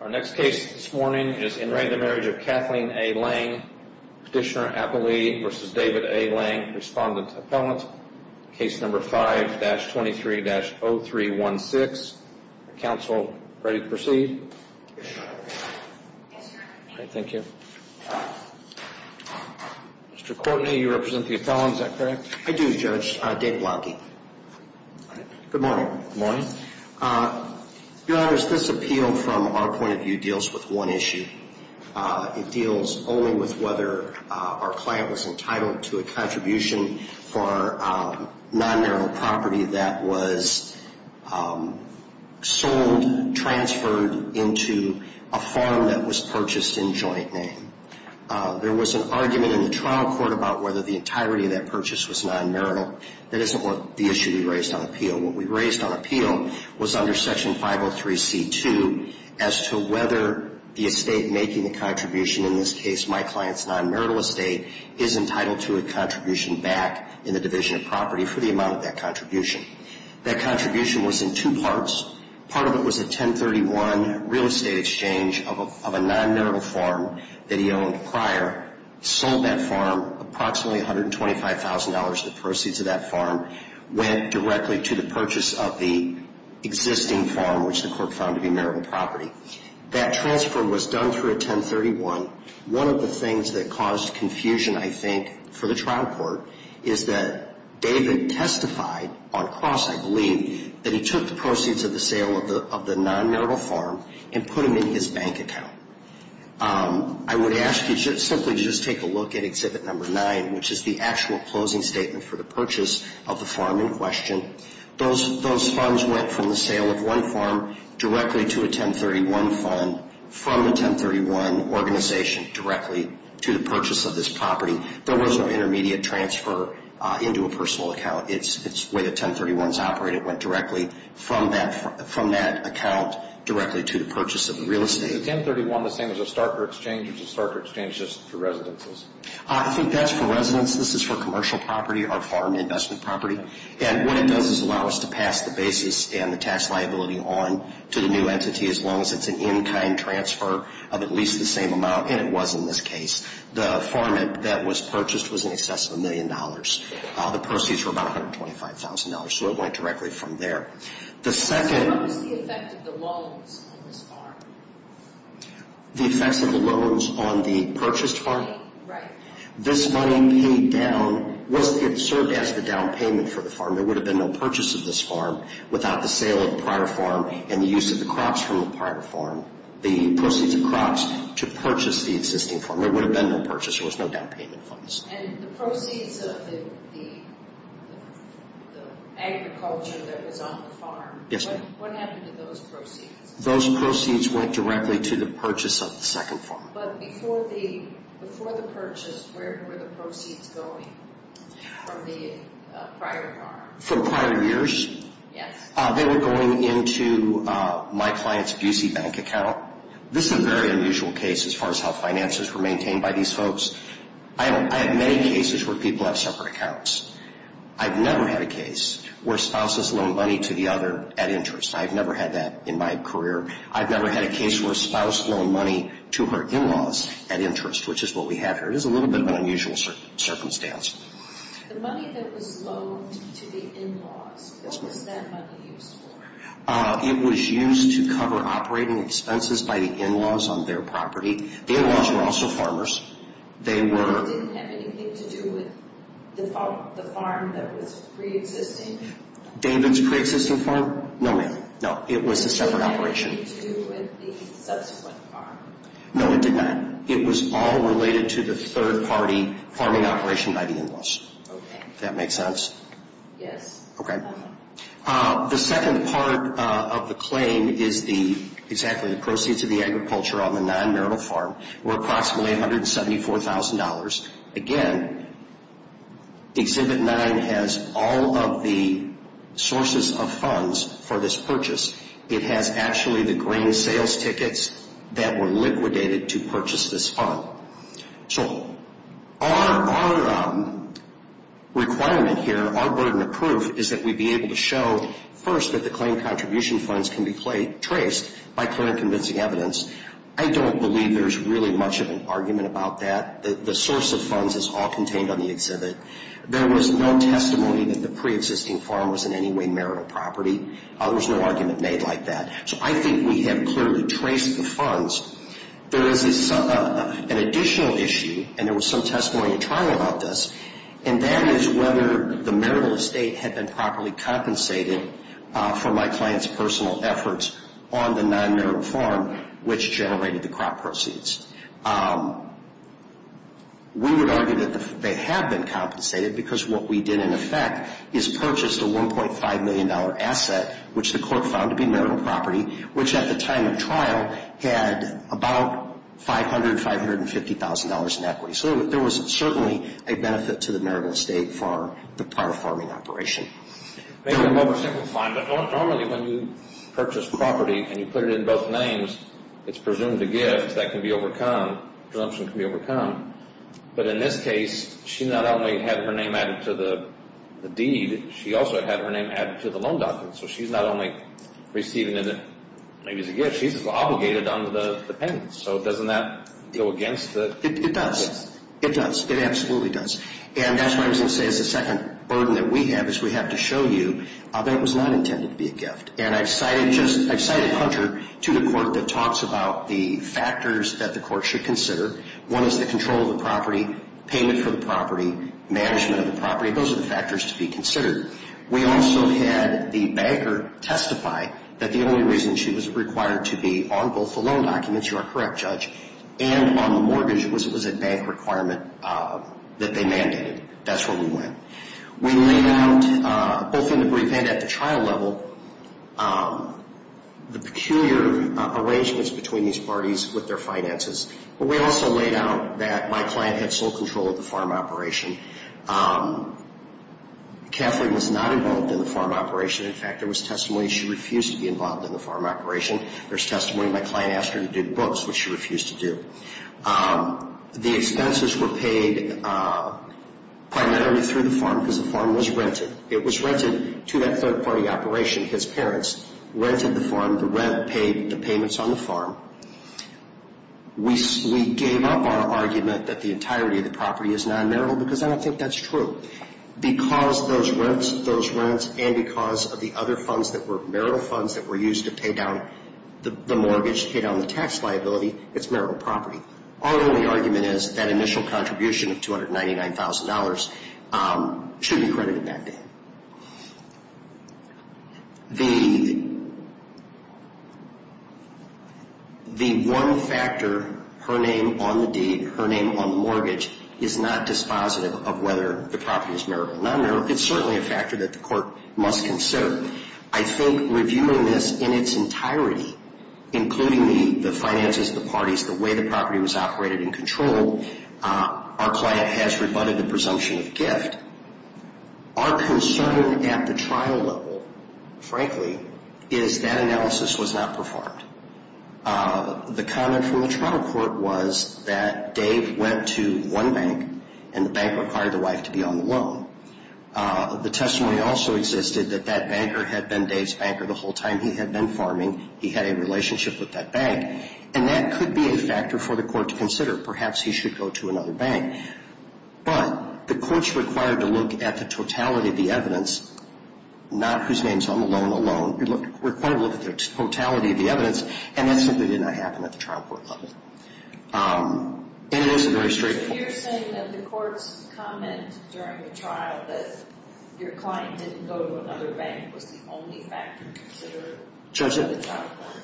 Our next case this morning is in the marriage of Kathleen A. Lange, Petitioner-Appellee v. David A. Lange, Respondent-Appellant, Case No. 5-23-0316. Counsel, ready to proceed? Thank you. Mr. Courtney, you represent the appellant, is that correct? I do, Judge. David Blanke. Good morning. Good morning. Your Honors, this appeal from our point of view deals with one issue. It deals only with whether our client was entitled to a contribution for non-marital property that was sold, transferred into a farm that was purchased in joint name. There was an argument in the trial court about whether the entirety of that purchase was non-marital. That isn't what the issue we raised on appeal. What we raised on appeal was under Section 503c-2 as to whether the estate making the contribution, in this case my client's non-marital estate, is entitled to a contribution back in the division of property for the amount of that contribution. That contribution was in two parts. Part of it was a 1031 real estate exchange of a non-marital farm that he owned prior, sold that farm approximately $125,000. The proceeds of that farm went directly to the purchase of the existing farm, which the court found to be marital property. That transfer was done through a 1031. One of the things that caused confusion, I think, for the trial court is that David testified on cross, I believe, that he took the proceeds of the sale of the non-marital farm and put them in his bank account. I would ask you simply to just take a look at Exhibit 9, which is the actual closing statement for the purchase of the farm in question. Those funds went from the sale of one farm directly to a 1031 fund from a 1031 organization directly to the purchase of this property. There was no intermediate transfer into a personal account. It's the way that 1031s operate. It went directly from that account directly to the purchase of the real estate. Is a 1031 the same as a starter exchange or is a starter exchange just for residences? I think that's for residences. This is for commercial property or farm investment property. And what it does is allow us to pass the basis and the tax liability on to the new entity, as long as it's an in-kind transfer of at least the same amount, and it was in this case. The farm that was purchased was in excess of a million dollars. The proceeds were about $125,000, so it went directly from there. So what was the effect of the loans on this farm? The effects of the loans on the purchased farm? Right. This money paid down, it served as the down payment for the farm. There would have been no purchase of this farm without the sale of the prior farm and the use of the crops from the prior farm, the proceeds of crops, to purchase the existing farm. There would have been no purchase. There was no down payment for this farm. And the proceeds of the agriculture that was on the farm, what happened to those proceeds? Those proceeds went directly to the purchase of the second farm. But before the purchase, where were the proceeds going from the prior farm? From prior years? Yes. They were going into my client's Busey Bank account. This is a very unusual case as far as how finances were maintained by these folks. I have many cases where people have separate accounts. I've never had a case where spouses loan money to the other at interest. I've never had that in my career. I've never had a case where a spouse loaned money to her in-laws at interest, which is what we have here. It is a little bit of an unusual circumstance. The money that was loaned to the in-laws, what was that money used for? It was used to cover operating expenses by the in-laws on their property. The in-laws were also farmers. They were... It didn't have anything to do with the farm that was pre-existing? David's pre-existing farm? No, ma'am. It was a separate operation. It didn't have anything to do with the subsequent farm? No, it did not. It was all related to the third-party farming operation by the in-laws. Okay. Does that make sense? Yes. Okay. The second part of the claim is exactly the proceeds of the agriculture on the non-marital farm were approximately $174,000. Again, Exhibit 9 has all of the sources of funds for this purchase. It has actually the grain sales tickets that were liquidated to purchase this farm. So our requirement here, our burden of proof, is that we be able to show first that the claim contribution funds can be traced by clear and convincing evidence. I don't believe there's really much of an argument about that. The source of funds is all contained on the exhibit. There was no testimony that the pre-existing farm was in any way marital property. There was no argument made like that. So I think we have clearly traced the funds. There is an additional issue, and there was some testimony in trial about this, and that is whether the marital estate had been properly compensated for my client's personal efforts on the non-marital farm, which generated the crop proceeds. We would argue that they have been compensated because what we did in effect is purchased a $1.5 million asset, which the court found to be marital property, which at the time of trial had about $500,000, $550,000 in equity. So there was certainly a benefit to the marital estate for the prior farming operation. Maybe I'm oversimplifying, but normally when you purchase property and you put it in both names, it's presumed to give. That can be overcome. Presumption can be overcome. But in this case, she not only had her name added to the deed, she also had her name added to the loan document. So she's not only receiving it maybe as a gift, she's obligated on the payment. So doesn't that go against the... It does. It does. It absolutely does. And that's why I was going to say it's the second burden that we have is we have to show you that it was not intended to be a gift. And I've cited Hunter to the court that talks about the factors that the court should consider. One is the control of the property, payment for the property, management of the property. Those are the factors to be considered. We also had the banker testify that the only reason she was required to be on both the loan documents, you are correct, Judge, and on the mortgage was it was a bank requirement that they mandated. That's where we went. We laid out, both in the brief and at the trial level, the peculiar arrangements between these parties with their finances. But we also laid out that my client had sole control of the farm operation. Kathleen was not involved in the farm operation. In fact, there was testimony she refused to be involved in the farm operation. There's testimony my client asked her to do books, which she refused to do. The expenses were paid primarily through the farm because the farm was rented. It was rented to that third-party operation. His parents rented the farm. The rent paid the payments on the farm. We gave up our argument that the entirety of the property is non-marital because I don't think that's true. Because of those rents and because of the other funds that were marital funds that were used to pay down the mortgage, pay down the tax liability, it's marital property. Our only argument is that initial contribution of $299,000 should be credited that day. The one factor, her name on the deed, her name on the mortgage, is not dispositive of whether the property is marital or non-marital. It's certainly a factor that the court must consider. I think reviewing this in its entirety, including the finances, the parties, the way the property was operated and controlled, our client has rebutted the presumption of gift. Our concern at the trial level, frankly, is that analysis was not performed. The comment from the trial court was that Dave went to one bank and the bank required the wife to be on the loan. The testimony also existed that that banker had been Dave's banker the whole time he had been farming. He had a relationship with that bank. And that could be a factor for the court to consider. Perhaps he should go to another bank. But the court's required to look at the totality of the evidence, not whose name is on the loan alone. We're required to look at the totality of the evidence. And that simply did not happen at the trial court level. And it is a very straightforward... So you're saying that the court's comment during the trial that your client didn't go to another bank was the only factor considered by the trial court? Judge,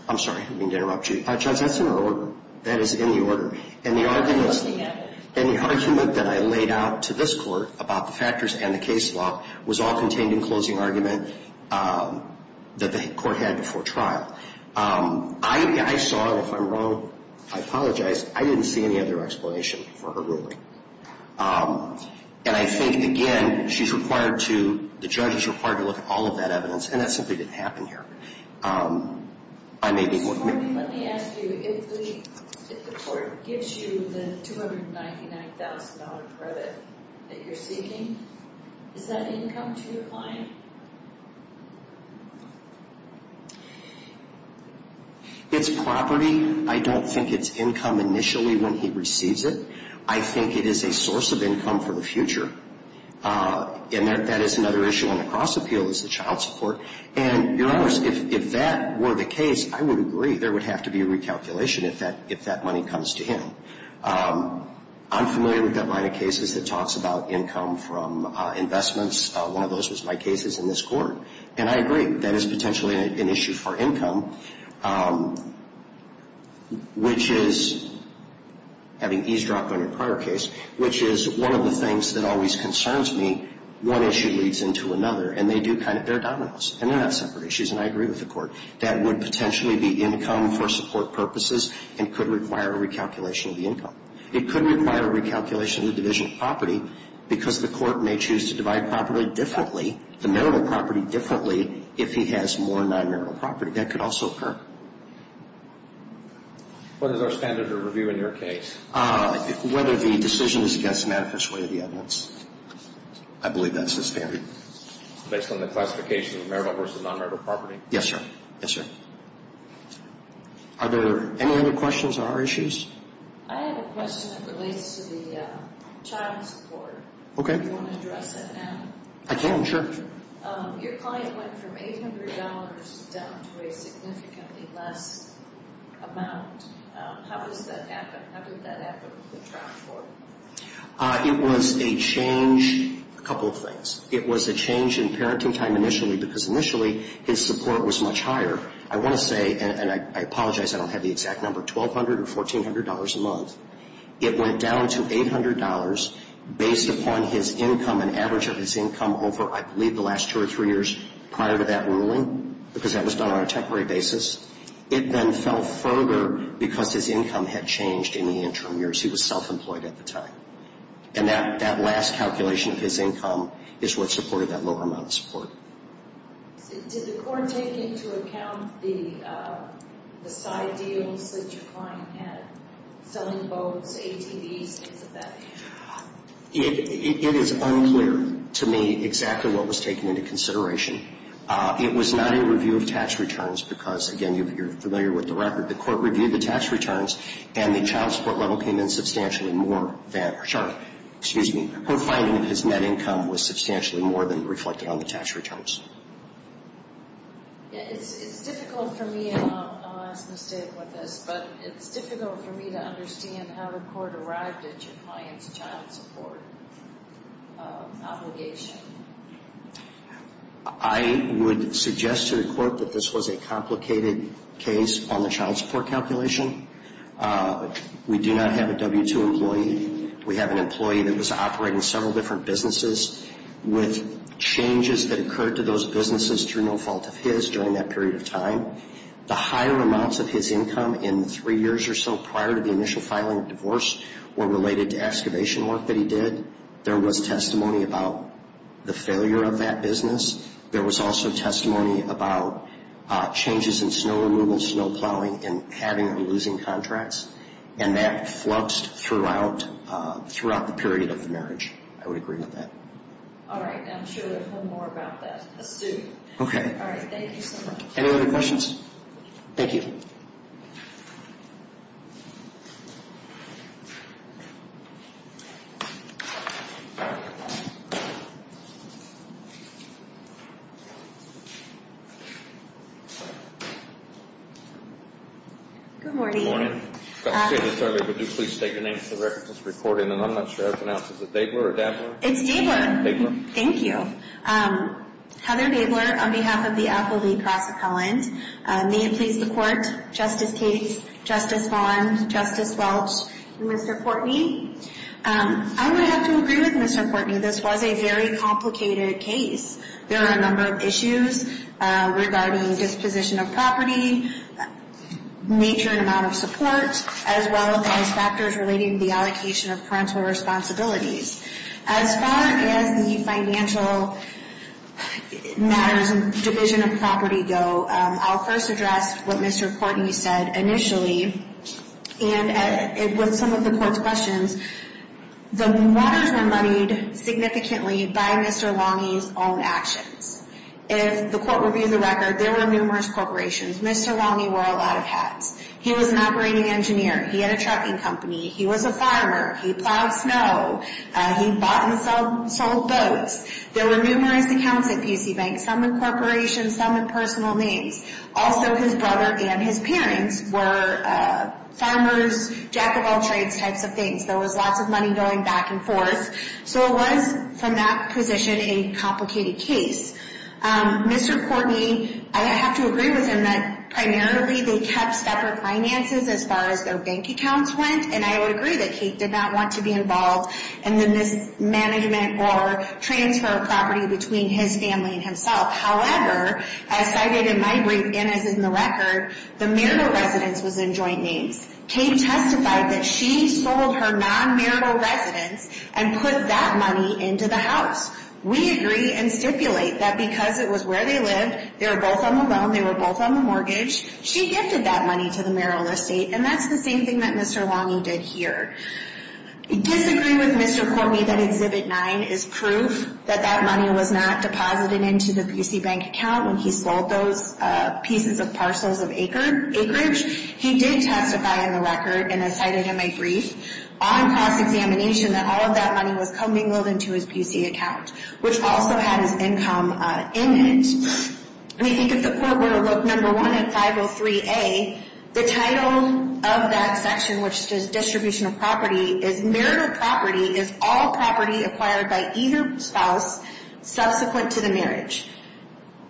I'm sorry, I didn't mean to interrupt you. Judge, that's in the order. That is in the order. And the argument that I laid out to this court about the factors and the case law was all contained in closing argument that the court had before trial. I saw, if I'm wrong, I apologize, I didn't see any other explanation for her ruling. And I think, again, she's required to, the judge is required to look at all of that evidence. And that simply didn't happen here. I may be more... Let me ask you, if the court gives you the $299,000 credit that you're seeking, is that income to your client? It's property. I don't think it's income initially when he receives it. I think it is a source of income for the future. And that is another issue on the cross appeal is the child support. And, Your Honor, if that were the case, I would agree. There would have to be a recalculation if that money comes to him. I'm familiar with that line of cases that talks about income from investments. One of those was my cases in this court. And I agree. That is potentially an issue for income, which is, having eavesdropped on a prior case, which is one of the things that always concerns me. One issue leads into another, and they're dominoes. And they're not separate issues. And I agree with the court. That would potentially be income for support purposes and could require a recalculation of the income. It could require a recalculation of the division of property because the court may choose to divide property differently, the marital property differently, if he has more non-marital property. That could also occur. What is our standard of review in your case? Whether the decision is against manifest way of the evidence. I believe that's the standard. Based on the classification of marital versus non-marital property? Yes, sir. Yes, sir. Are there any other questions on our issues? I have a question that relates to the child support. Okay. Do you want to address that now? I can, sure. Your client went from $800 down to a significantly less amount. How does that happen? How did that happen with the child support? It was a change, a couple of things. It was a change in parenting time initially because initially his support was much higher. I want to say, and I apologize I don't have the exact number, $1,200 or $1,400 a month. It went down to $800 based upon his income, an average of his income over, I believe, the last two or three years prior to that ruling because that was done on a temporary basis. It then fell further because his income had changed in the interim years. He was self-employed at the time. And that last calculation of his income is what supported that lower amount of support. Did the court take into account the side deals that your client had, selling boats, ATVs, things of that nature? It is unclear to me exactly what was taken into consideration. It was not a review of tax returns because, again, you're familiar with the record. The court reviewed the tax returns and the child support level came in substantially more than, sorry, excuse me, her finding that his net income was substantially more than reflected on the tax returns. It's difficult for me, and I'll ask Ms. Stiglitz this, but it's difficult for me to understand how the court arrived at your client's child support obligation. I would suggest to the court that this was a complicated case on the child support calculation. We do not have a W-2 employee. We have an employee that was operating several different businesses with changes that occurred to those businesses through no fault of his during that period of time. The higher amounts of his income in the three years or so prior to the initial filing of divorce were related to excavation work that he did. There was testimony about the failure of that business. There was also testimony about changes in snow removal and snow plowing and having or losing contracts, and that fluxed throughout the period of the marriage. I would agree with that. All right. I'm sure we'll hear more about that. Let's do it. Okay. All right. Thank you so much. Any other questions? Thank you. Good morning. Good morning. I was going to say this earlier, but do please state your name for the record. It's recording, and I'm not sure how to pronounce it. Is it Dabler or Dabler? It's Dabler. Dabler. Thank you. Heather Dabler on behalf of the Applebee Cross Appellant. May it please the Court, Justice Gates, Justice Vaughn, Justice Welch, and Mr. Portney. I would have to agree with Mr. Portney. This was a very complicated case. There are a number of issues regarding disposition of property. Major amount of support, as well as factors relating to the allocation of parental responsibilities. As far as the financial matters and division of property go, I'll first address what Mr. Portney said initially. And with some of the Court's questions, the waters were muddied significantly by Mr. Lange's own actions. If the Court reviewed the record, there were numerous corporations. Mr. Lange wore a lot of hats. He was an operating engineer. He had a trucking company. He was a farmer. He plowed snow. He bought and sold boats. There were numerous accounts at P.C. Bank, some in corporations, some in personal names. Also, his brother and his parents were farmers, jack of all trades types of things. There was lots of money going back and forth. So it was, from that position, a complicated case. Mr. Portney, I have to agree with him that, primarily, they kept separate finances as far as their bank accounts went. And I would agree that Kate did not want to be involved in the mismanagement or transfer of property between his family and himself. However, as cited in my brief and as in the record, the marital residence was in joint names. Kate testified that she sold her non-marital residence and put that money into the house. We agree and stipulate that because it was where they lived, they were both on the loan, they were both on the mortgage, she gifted that money to the marital estate. And that's the same thing that Mr. Lange did here. I disagree with Mr. Portney that Exhibit 9 is proof that that money was not deposited into the P.C. Bank account when he sold those pieces of parcels of acreage. He did testify in the record and as cited in my brief, on cross-examination, that all of that money was commingled into his P.C. account, which also had his income in it. We think if the court were to look at No. 1 at 503A, the title of that section which says distribution of property is marital property is all property acquired by either spouse subsequent to the marriage.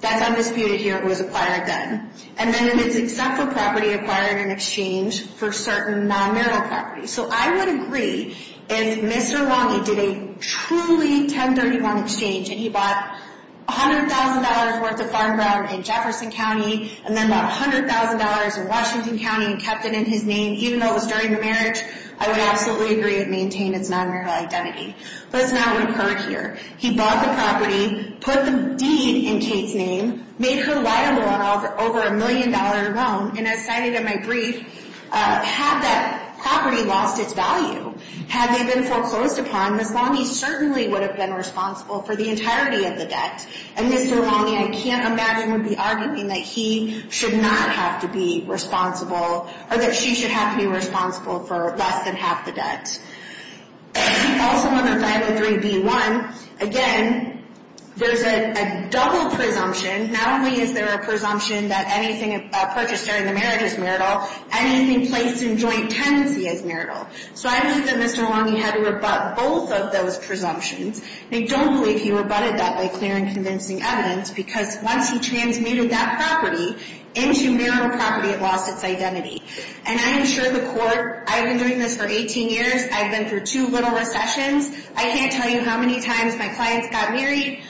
That's undisputed here. It was acquired then. And then it is except for property acquired in exchange for certain non-marital property. So I would agree if Mr. Lange did a truly 1031 exchange and he bought $100,000 worth of farm ground in Jefferson County and then bought $100,000 in Washington County and kept it in his name even though it was during the marriage, I would absolutely agree it maintained its non-marital identity. But it's not recurred here. He bought the property, put the deed in Kate's name, made her liable on over a million dollar loan and as cited in my brief, had that property lost its value, had they been foreclosed upon, Ms. Lange certainly would have been responsible for the entirety of the debt. And Mr. Lange, I can't imagine would be arguing that he should not have to be responsible or that she should have to be responsible for less than half the debt. Also under 503B1, again, there's a double presumption. Not only is there a presumption that anything purchased during a marriage is marital, anything placed in joint tenancy is marital. So I believe that Mr. Lange had to rebut both of those presumptions. I don't believe he rebutted that by clearing convincing evidence because once he transmuted that property into marital property, it lost its identity. And I am sure the court, I've been doing this for 18 years, I've been through two little recessions, I can't tell you how many times my clients got married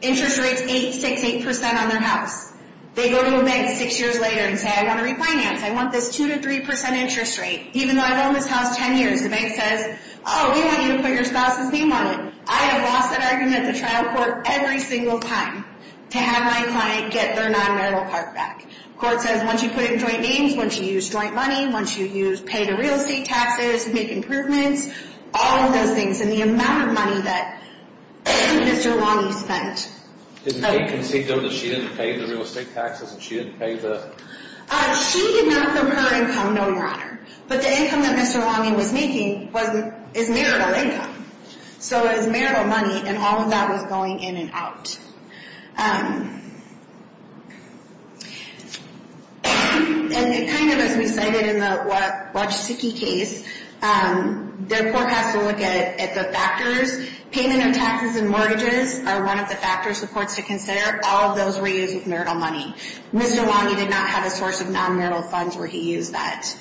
interest rates 8, 6, 8% on their house. They go to a bank 6 years later and say I want to refinance, I want this 2-3% interest rate. Even though I've owned this house 10 years, the bank says, oh we want you to put your spouse's name on it. I have lost that argument to trial court every single time to have my client get their non-marital part back. Court says once you put it in joint names, once you use joint money, once you use pay to real estate taxes to make improvements, all of those things, and the amount of money that Mr. Lange spent. Did the bank concede though that she didn't pay the real estate taxes and she didn't pay the She did not from her income, no your honor. But the income that Mr. Lange was making is marital income. So it was marital money and all of that was going in and out. And it kind of, as we cited in the Wachetziki case, the court has to look at the factors. Payment of taxes and mortgages are one of the factors the court has to consider. All of those were used with marital money. Mr. Lange did not have a source of non-marital funds where he used that.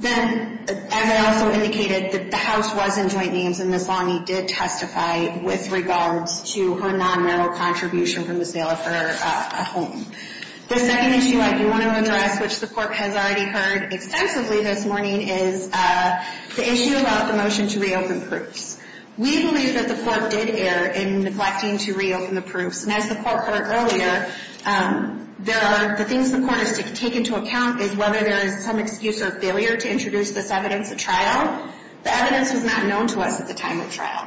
Then, as I also indicated, the house was in joint names and Ms. Lange did testify with regards to her non-marital contribution from the sale of her home. The second issue I do want to address, which the court has already heard extensively this morning is the issue about the motion to reopen proofs. We believe that the court did err in neglecting to reopen the proofs. And as the court heard earlier, there are the things the court has to take into account is whether there is some excuse or failure to introduce this evidence at trial. The evidence was not known to us at the time of trial.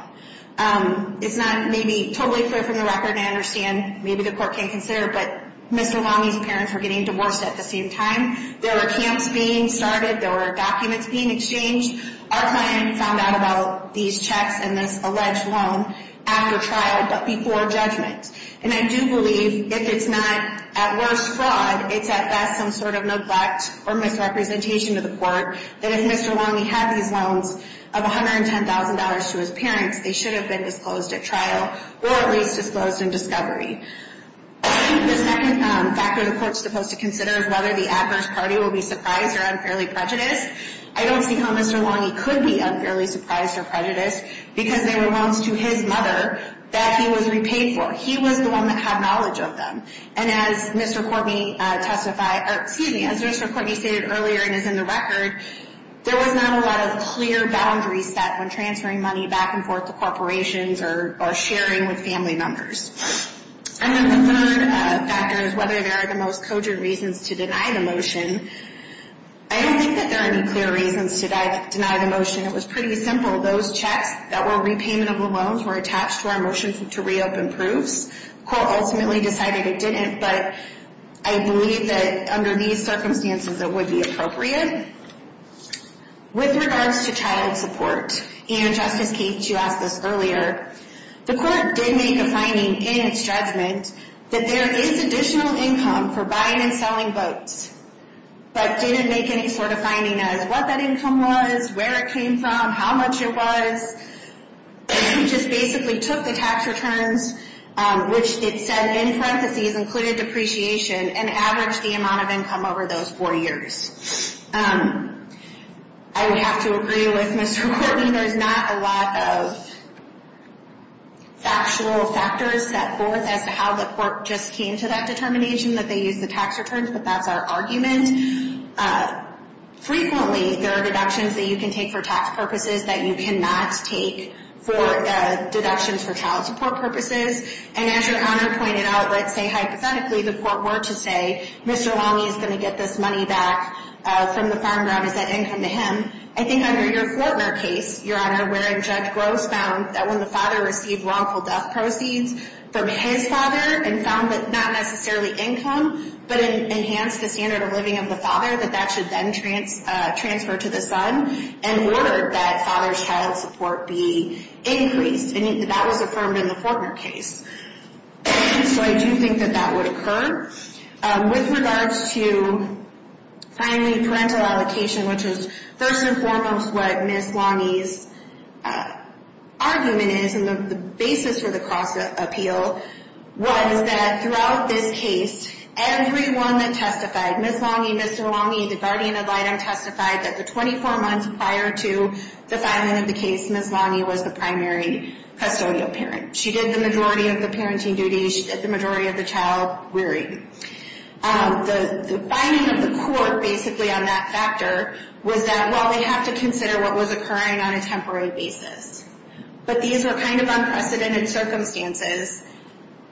It's not maybe totally clear from the record. I understand maybe the court can't consider, but Mr. Lange's parents were getting divorced at the same time. There were camps being started. There were documents being exchanged. Our client found out about these checks and this alleged loan after trial, but before judgment. And I do believe if it's not at worst fraud, it's at best some sort of neglect or misrepresentation to the court that if Mr. Lange had these loans of $110,000 to his parents, they should have been disclosed at trial or at least disclosed in discovery. The second factor the court is supposed to consider is whether the adverse party will be surprised or unfairly prejudiced. I don't see how Mr. Lange could be unfairly surprised or prejudiced because they were loans to his mother that he was repaid for. He was the one that had knowledge of them. And as Mr. Cortney testified, or excuse me, as Mr. Cortney stated earlier and is in the record, there was not a lot of clear boundaries set when transferring money back and forth to corporations or sharing with family members. And then the third factor is whether there are the most cogent reasons to deny the motion. I don't think that there are any clear reasons to deny the motion. It was pretty simple. Those checks that were repaymentable loans were attached to our motion to reopen proofs. The court ultimately decided it didn't but I believe that under these circumstances it would be appropriate. With regards to child support and Justice Keach, you asked this earlier, the court did make a finding in its judgment that there is additional income for buying and selling boats but didn't make any sort of finding as what that income was, where it came from, how much it was. It just basically took the tax returns which it said in parentheses included depreciation and averaged the amount of income over those four years. I would have to agree with Mr. Cortney there's not a lot of factual factors set forth as to how the court just came to that determination that they used the tax returns but that's our argument. Frequently there are deductions that you can take for tax purposes that you cannot take for deductions for child support purposes and as your Honor pointed out, let's say hypothetically the court were to say Mr. Longy is going to get this money back from the farm ground, is that income to him? I think under your Fortner case, your Honor, where Judge Gross found that when the father received wrongful death proceeds from his father and found that not necessarily income but enhanced the standard of living of the father that that should then transfer to the son in order that father's child support be increased and that was affirmed in the Fortner case. So I do think that that would occur with regards to finally parental allocation which is first and foremost what Ms. Longy's argument is and the basis for the cross appeal was that throughout this case everyone that testified Ms. Longy, Mr. Longy, the guardian of the item testified that the 24 months prior to the filing of the case, Ms. Longy was the primary custodial parent. She did the majority of the parenting duties, she did the majority of the child rearing. The finding of the court basically on that factor was that, well they have to consider what was a temporary basis. But these were kind of unprecedented circumstances.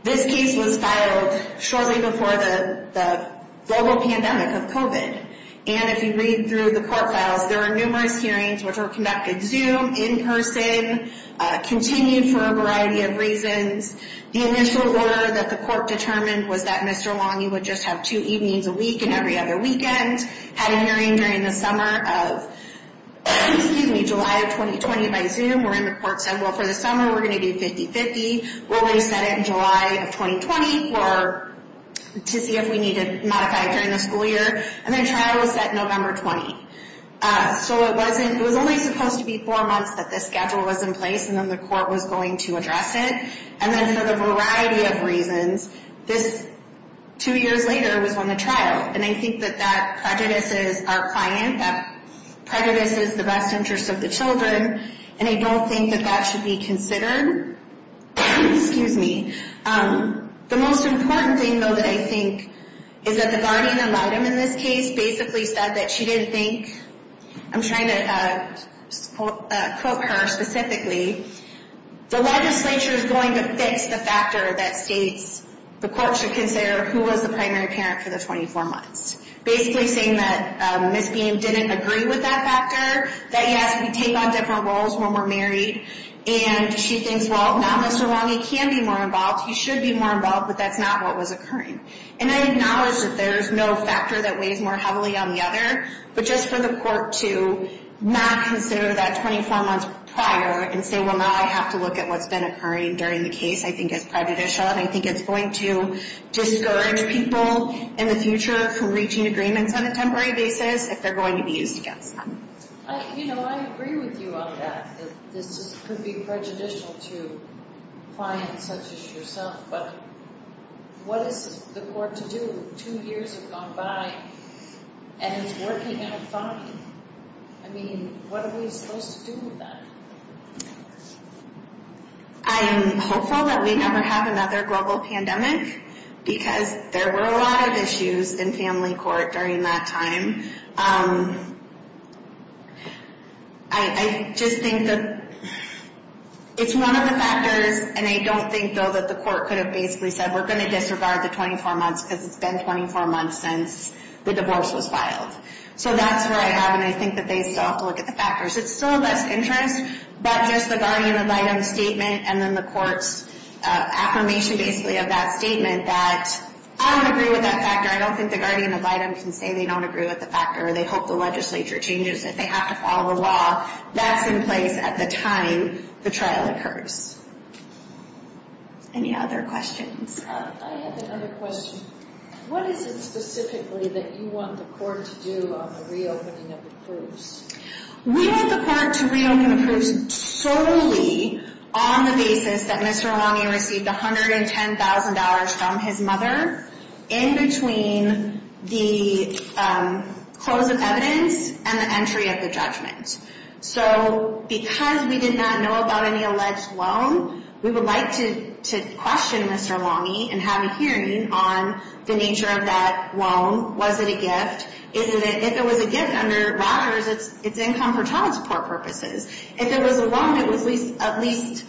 This case was filed shortly before the global pandemic of COVID and if you read through the court files, there were numerous hearings which were conducted Zoom, in person, continued for a variety of reasons. The initial order that the court determined was that Mr. Longy would just have two evenings a week and every other weekend. Had a hearing during the summer of excuse me, July of 2020 by Zoom where the court said for the summer we're going to do 50-50 we'll reset it in July of 2020 for, to see if we need to modify it during the school year and the trial was set November 20. So it wasn't, it was only supposed to be four months that this schedule was in place and then the court was going to address it. And then for the variety of reasons, this two years later was when the trial and I think that that prejudices our client, that prejudices the best interest of the children and I don't think that that should be considered excuse me the most important thing though that I think is that the guardian in this case basically said that she didn't think I'm trying to quote her specifically the legislature is going to fix the factor that states the court should consider who was the primary parent for the 24 months basically saying that Miss Beam didn't agree with that factor that yes we take on different roles when we're married and she thinks well now Mr. Long he can be more involved he should be more involved but that's not what was occurring. And I acknowledge that there's no factor that weighs more heavily on the other but just for the court to not consider that 24 months prior and say well now I have to look at what's been occurring during the case I think is prejudicial and I think it's going to discourage people in the future from reaching agreements on a temporary basis if they're going to be used against them. I agree with you on that this could be prejudicial to clients such as yourself but what is the court to do? Two years have gone by and it's working out fine I mean what are we supposed to do with that? I'm hopeful that we never have another global pandemic because there were a lot of issues in family court during that time I just think that it's one of the factors and I don't think though that the court could have basically said we're going to disregard the 24 months because it's been 24 months since the divorce was filed so that's where I have and I think that they still have to look at the factors. It's still less interest but just the guardian of items statement and then the courts affirmation basically of that statement that I don't agree with that factor. I don't think the guardian of items can say they don't agree with the factor or they hope the legislature changes it. They have to follow the law that's in place at the time the trial occurs Any other questions? I have another question. What is it specifically that you want the court to do on the reopening of the proofs? We want the court to reopen the proofs solely on the basis that Mr. Longy received $110,000 from his mother in between the close of evidence and the entry of the judgment so because we did not know about any alleged loan we would like to question Mr. Longy and have a hearing on the nature of that loan was it a gift? If it was a gift under Rogers it's income for child support purposes If it was a loan it was at least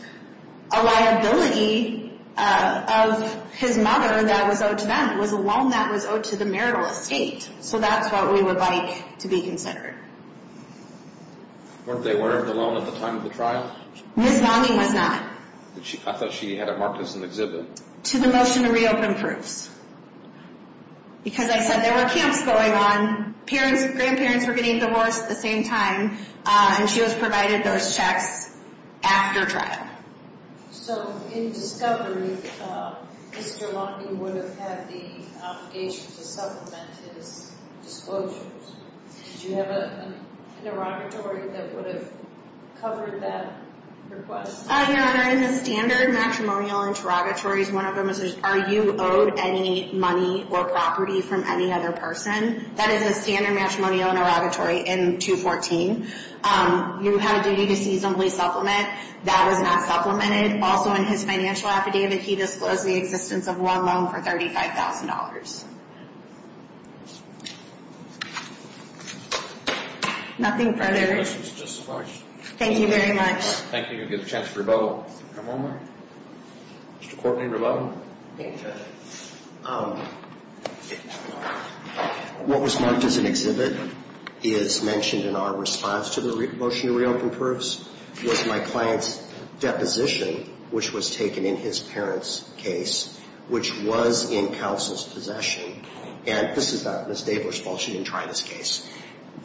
a liability of his mother that was owed to them. It was a loan that was owed to the marital estate so that's what we would like to be considered Weren't they aware of the loan at the time of the trial? Ms. Longy was not I thought she had it marked as an exhibit to the motion to reopen proofs because I said there were camps going on grandparents were getting divorced at the same time and she was provided those checks after trial So in discovery Mr. Longy would have had the obligation to supplement his disclosures. Did you have an interrogatory that would have covered that request? Your Honor in the standard matrimonial interrogatories one of them is are you owed any money or property from any other person? That is a standard matrimonial interrogatory in 214 You have a duty to seasonably supplement. That was not supplemented Also in his financial affidavit he disclosed the existence of one loan for $35,000 Nothing further Thank you very much Thank you. You have a chance to rebuttal Mr. Courtney rebuttal What was marked as an exhibit is mentioned in our response to the motion to reopen proofs was my client's deposition which was taken in his parents case which was in counsel's possession and this is not Ms. Davler's fault she didn't try this case.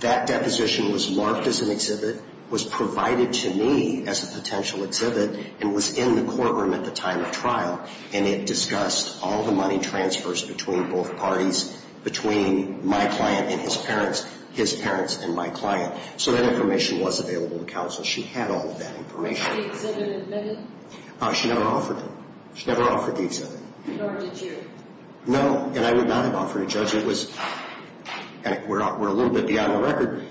That deposition was marked as an exhibit was provided to me as a potential exhibit and was in the courtroom at the time of trial and it discussed all the money transfers between both parties between my client and his parents his parents and my client so that information was available to counsel she had all of that information Was the exhibit admitted? She never offered it She never offered the exhibit Nor did you? No and I would not have offered it judge we're a little bit beyond the record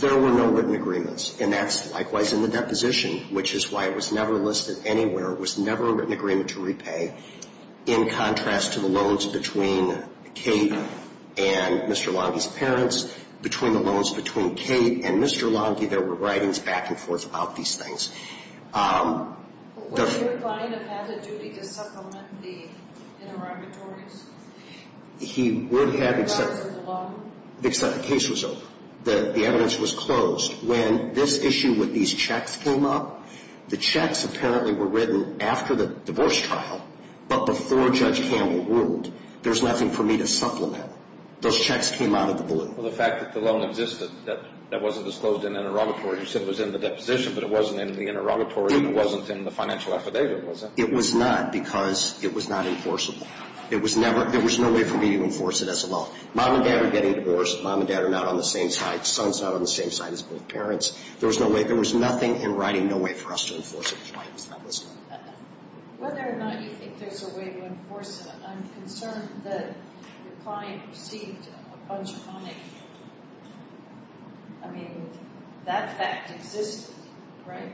there were no written agreements and that's likewise in the deposition which is why it was never listed anywhere it was never a written agreement to repay in contrast to the loans between Kate and Mr. Longhi's parents between the loans between Kate and Mr. Longhi there were writings back and forth about these things Would your client have had the duty to supplement the interrogatories? He would have except the case was over the evidence was closed when this issue with these checks came up, the checks apparently were written after the divorce trial but before Judge Campbell ruled there's nothing for me to supplement those checks came out of the blue Well the fact that the loan existed that wasn't disclosed in the interrogatory you said it was in the deposition but it wasn't in the interrogatory it wasn't in the financial affidavit was it? It was not because it was not enforceable. It was never there was no way for me to enforce it as a law Mom and Dad are getting divorced. Mom and Dad are not on the same side. Son's not on the same side as both parents. There was no way, there was nothing in writing, no way for us to enforce it which is why it was not listed Whether or not you think there's a way to enforce it I'm concerned that the client received a bunch of money I mean, that fact existed, right?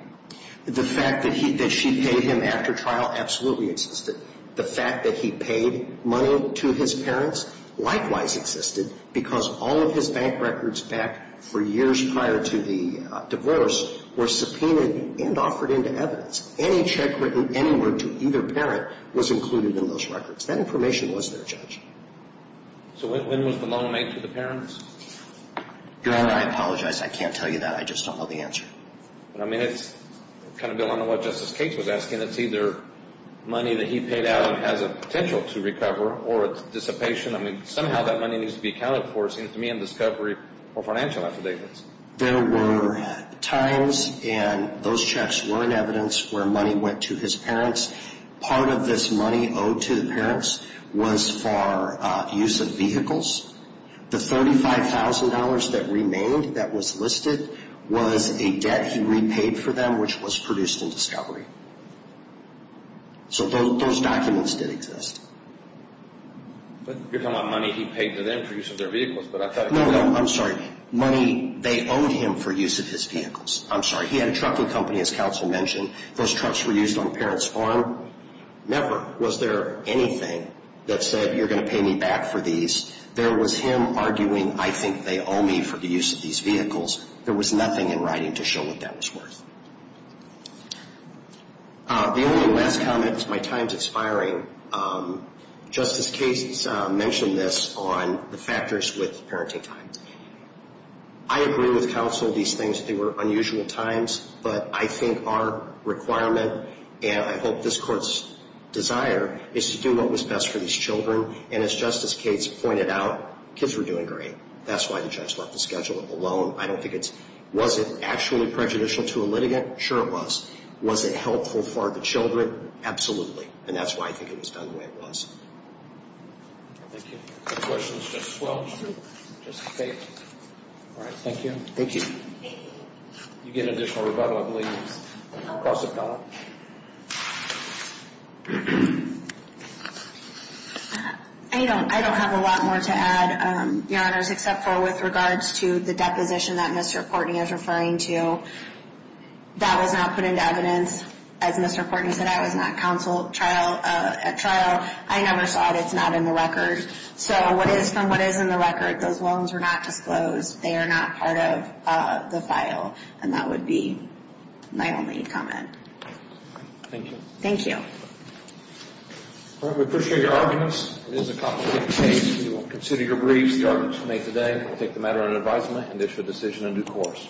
The fact that she paid him after trial absolutely existed The fact that he paid money to his parents likewise existed because all of his bank records back for years prior to the divorce were subpoenaed and offered into evidence Any check written anywhere to either parent was included in those records That information was their judge So when was the loan made to the parents? Your Honor, I apologize. I can't tell you that. I just don't know the answer I mean it's kind of going to what Justice Cates was asking It's either money that he paid out and has a potential to recover or it's dissipation. I mean, somehow that money needs to be accounted for. It seems to me in discovery or financial affidavits There were times and those checks were in evidence where money went to his parents Part of this money owed to the parents was for use of vehicles The $35,000 that remained that was listed was a debt he repaid for them which was produced in discovery So those documents did exist But you're talking about money he paid to them for use of their vehicles No, no, I'm sorry. Money they owed him for use of his vehicles. I'm sorry He had a trucking company as counsel mentioned Those trucks were used on parent's farm Never was there anything that said you're going to pay me back for these. There was him arguing I think they owe me for the use of these vehicles. There was nothing in writing to show what that was worth The only last comment is my time is expiring Justice Cates mentioned this on the factors with parenting time I agree with counsel these things were unusual times but I think our requirement and I hope this court's desire is to do what was best for these children and as Justice Cates pointed out, kids were doing great That's why the judge left the schedule alone I don't think it's, was it actually prejudicial to a litigant? Sure it was Was it helpful for the children? Absolutely. And that's why I think it was done the way it was Thank you. Questions? Justice Welch? Justice Cates? Alright, thank you. Thank you You get an additional rebuttal I believe across the panel I don't have a lot more to add, your honors, except for with regards to the deposition that Mr. Portney is referring to that was not put into evidence as Mr. Portney said, I was not counsel at trial I never saw it, it's not in the record so what is from what is in the record those loans were not disclosed they are not part of the file and that would be my only comment Thank you We appreciate your arguments It is a complicated case We will consider your briefs, your honors today, we'll take the matter under advisement and issue a decision in due course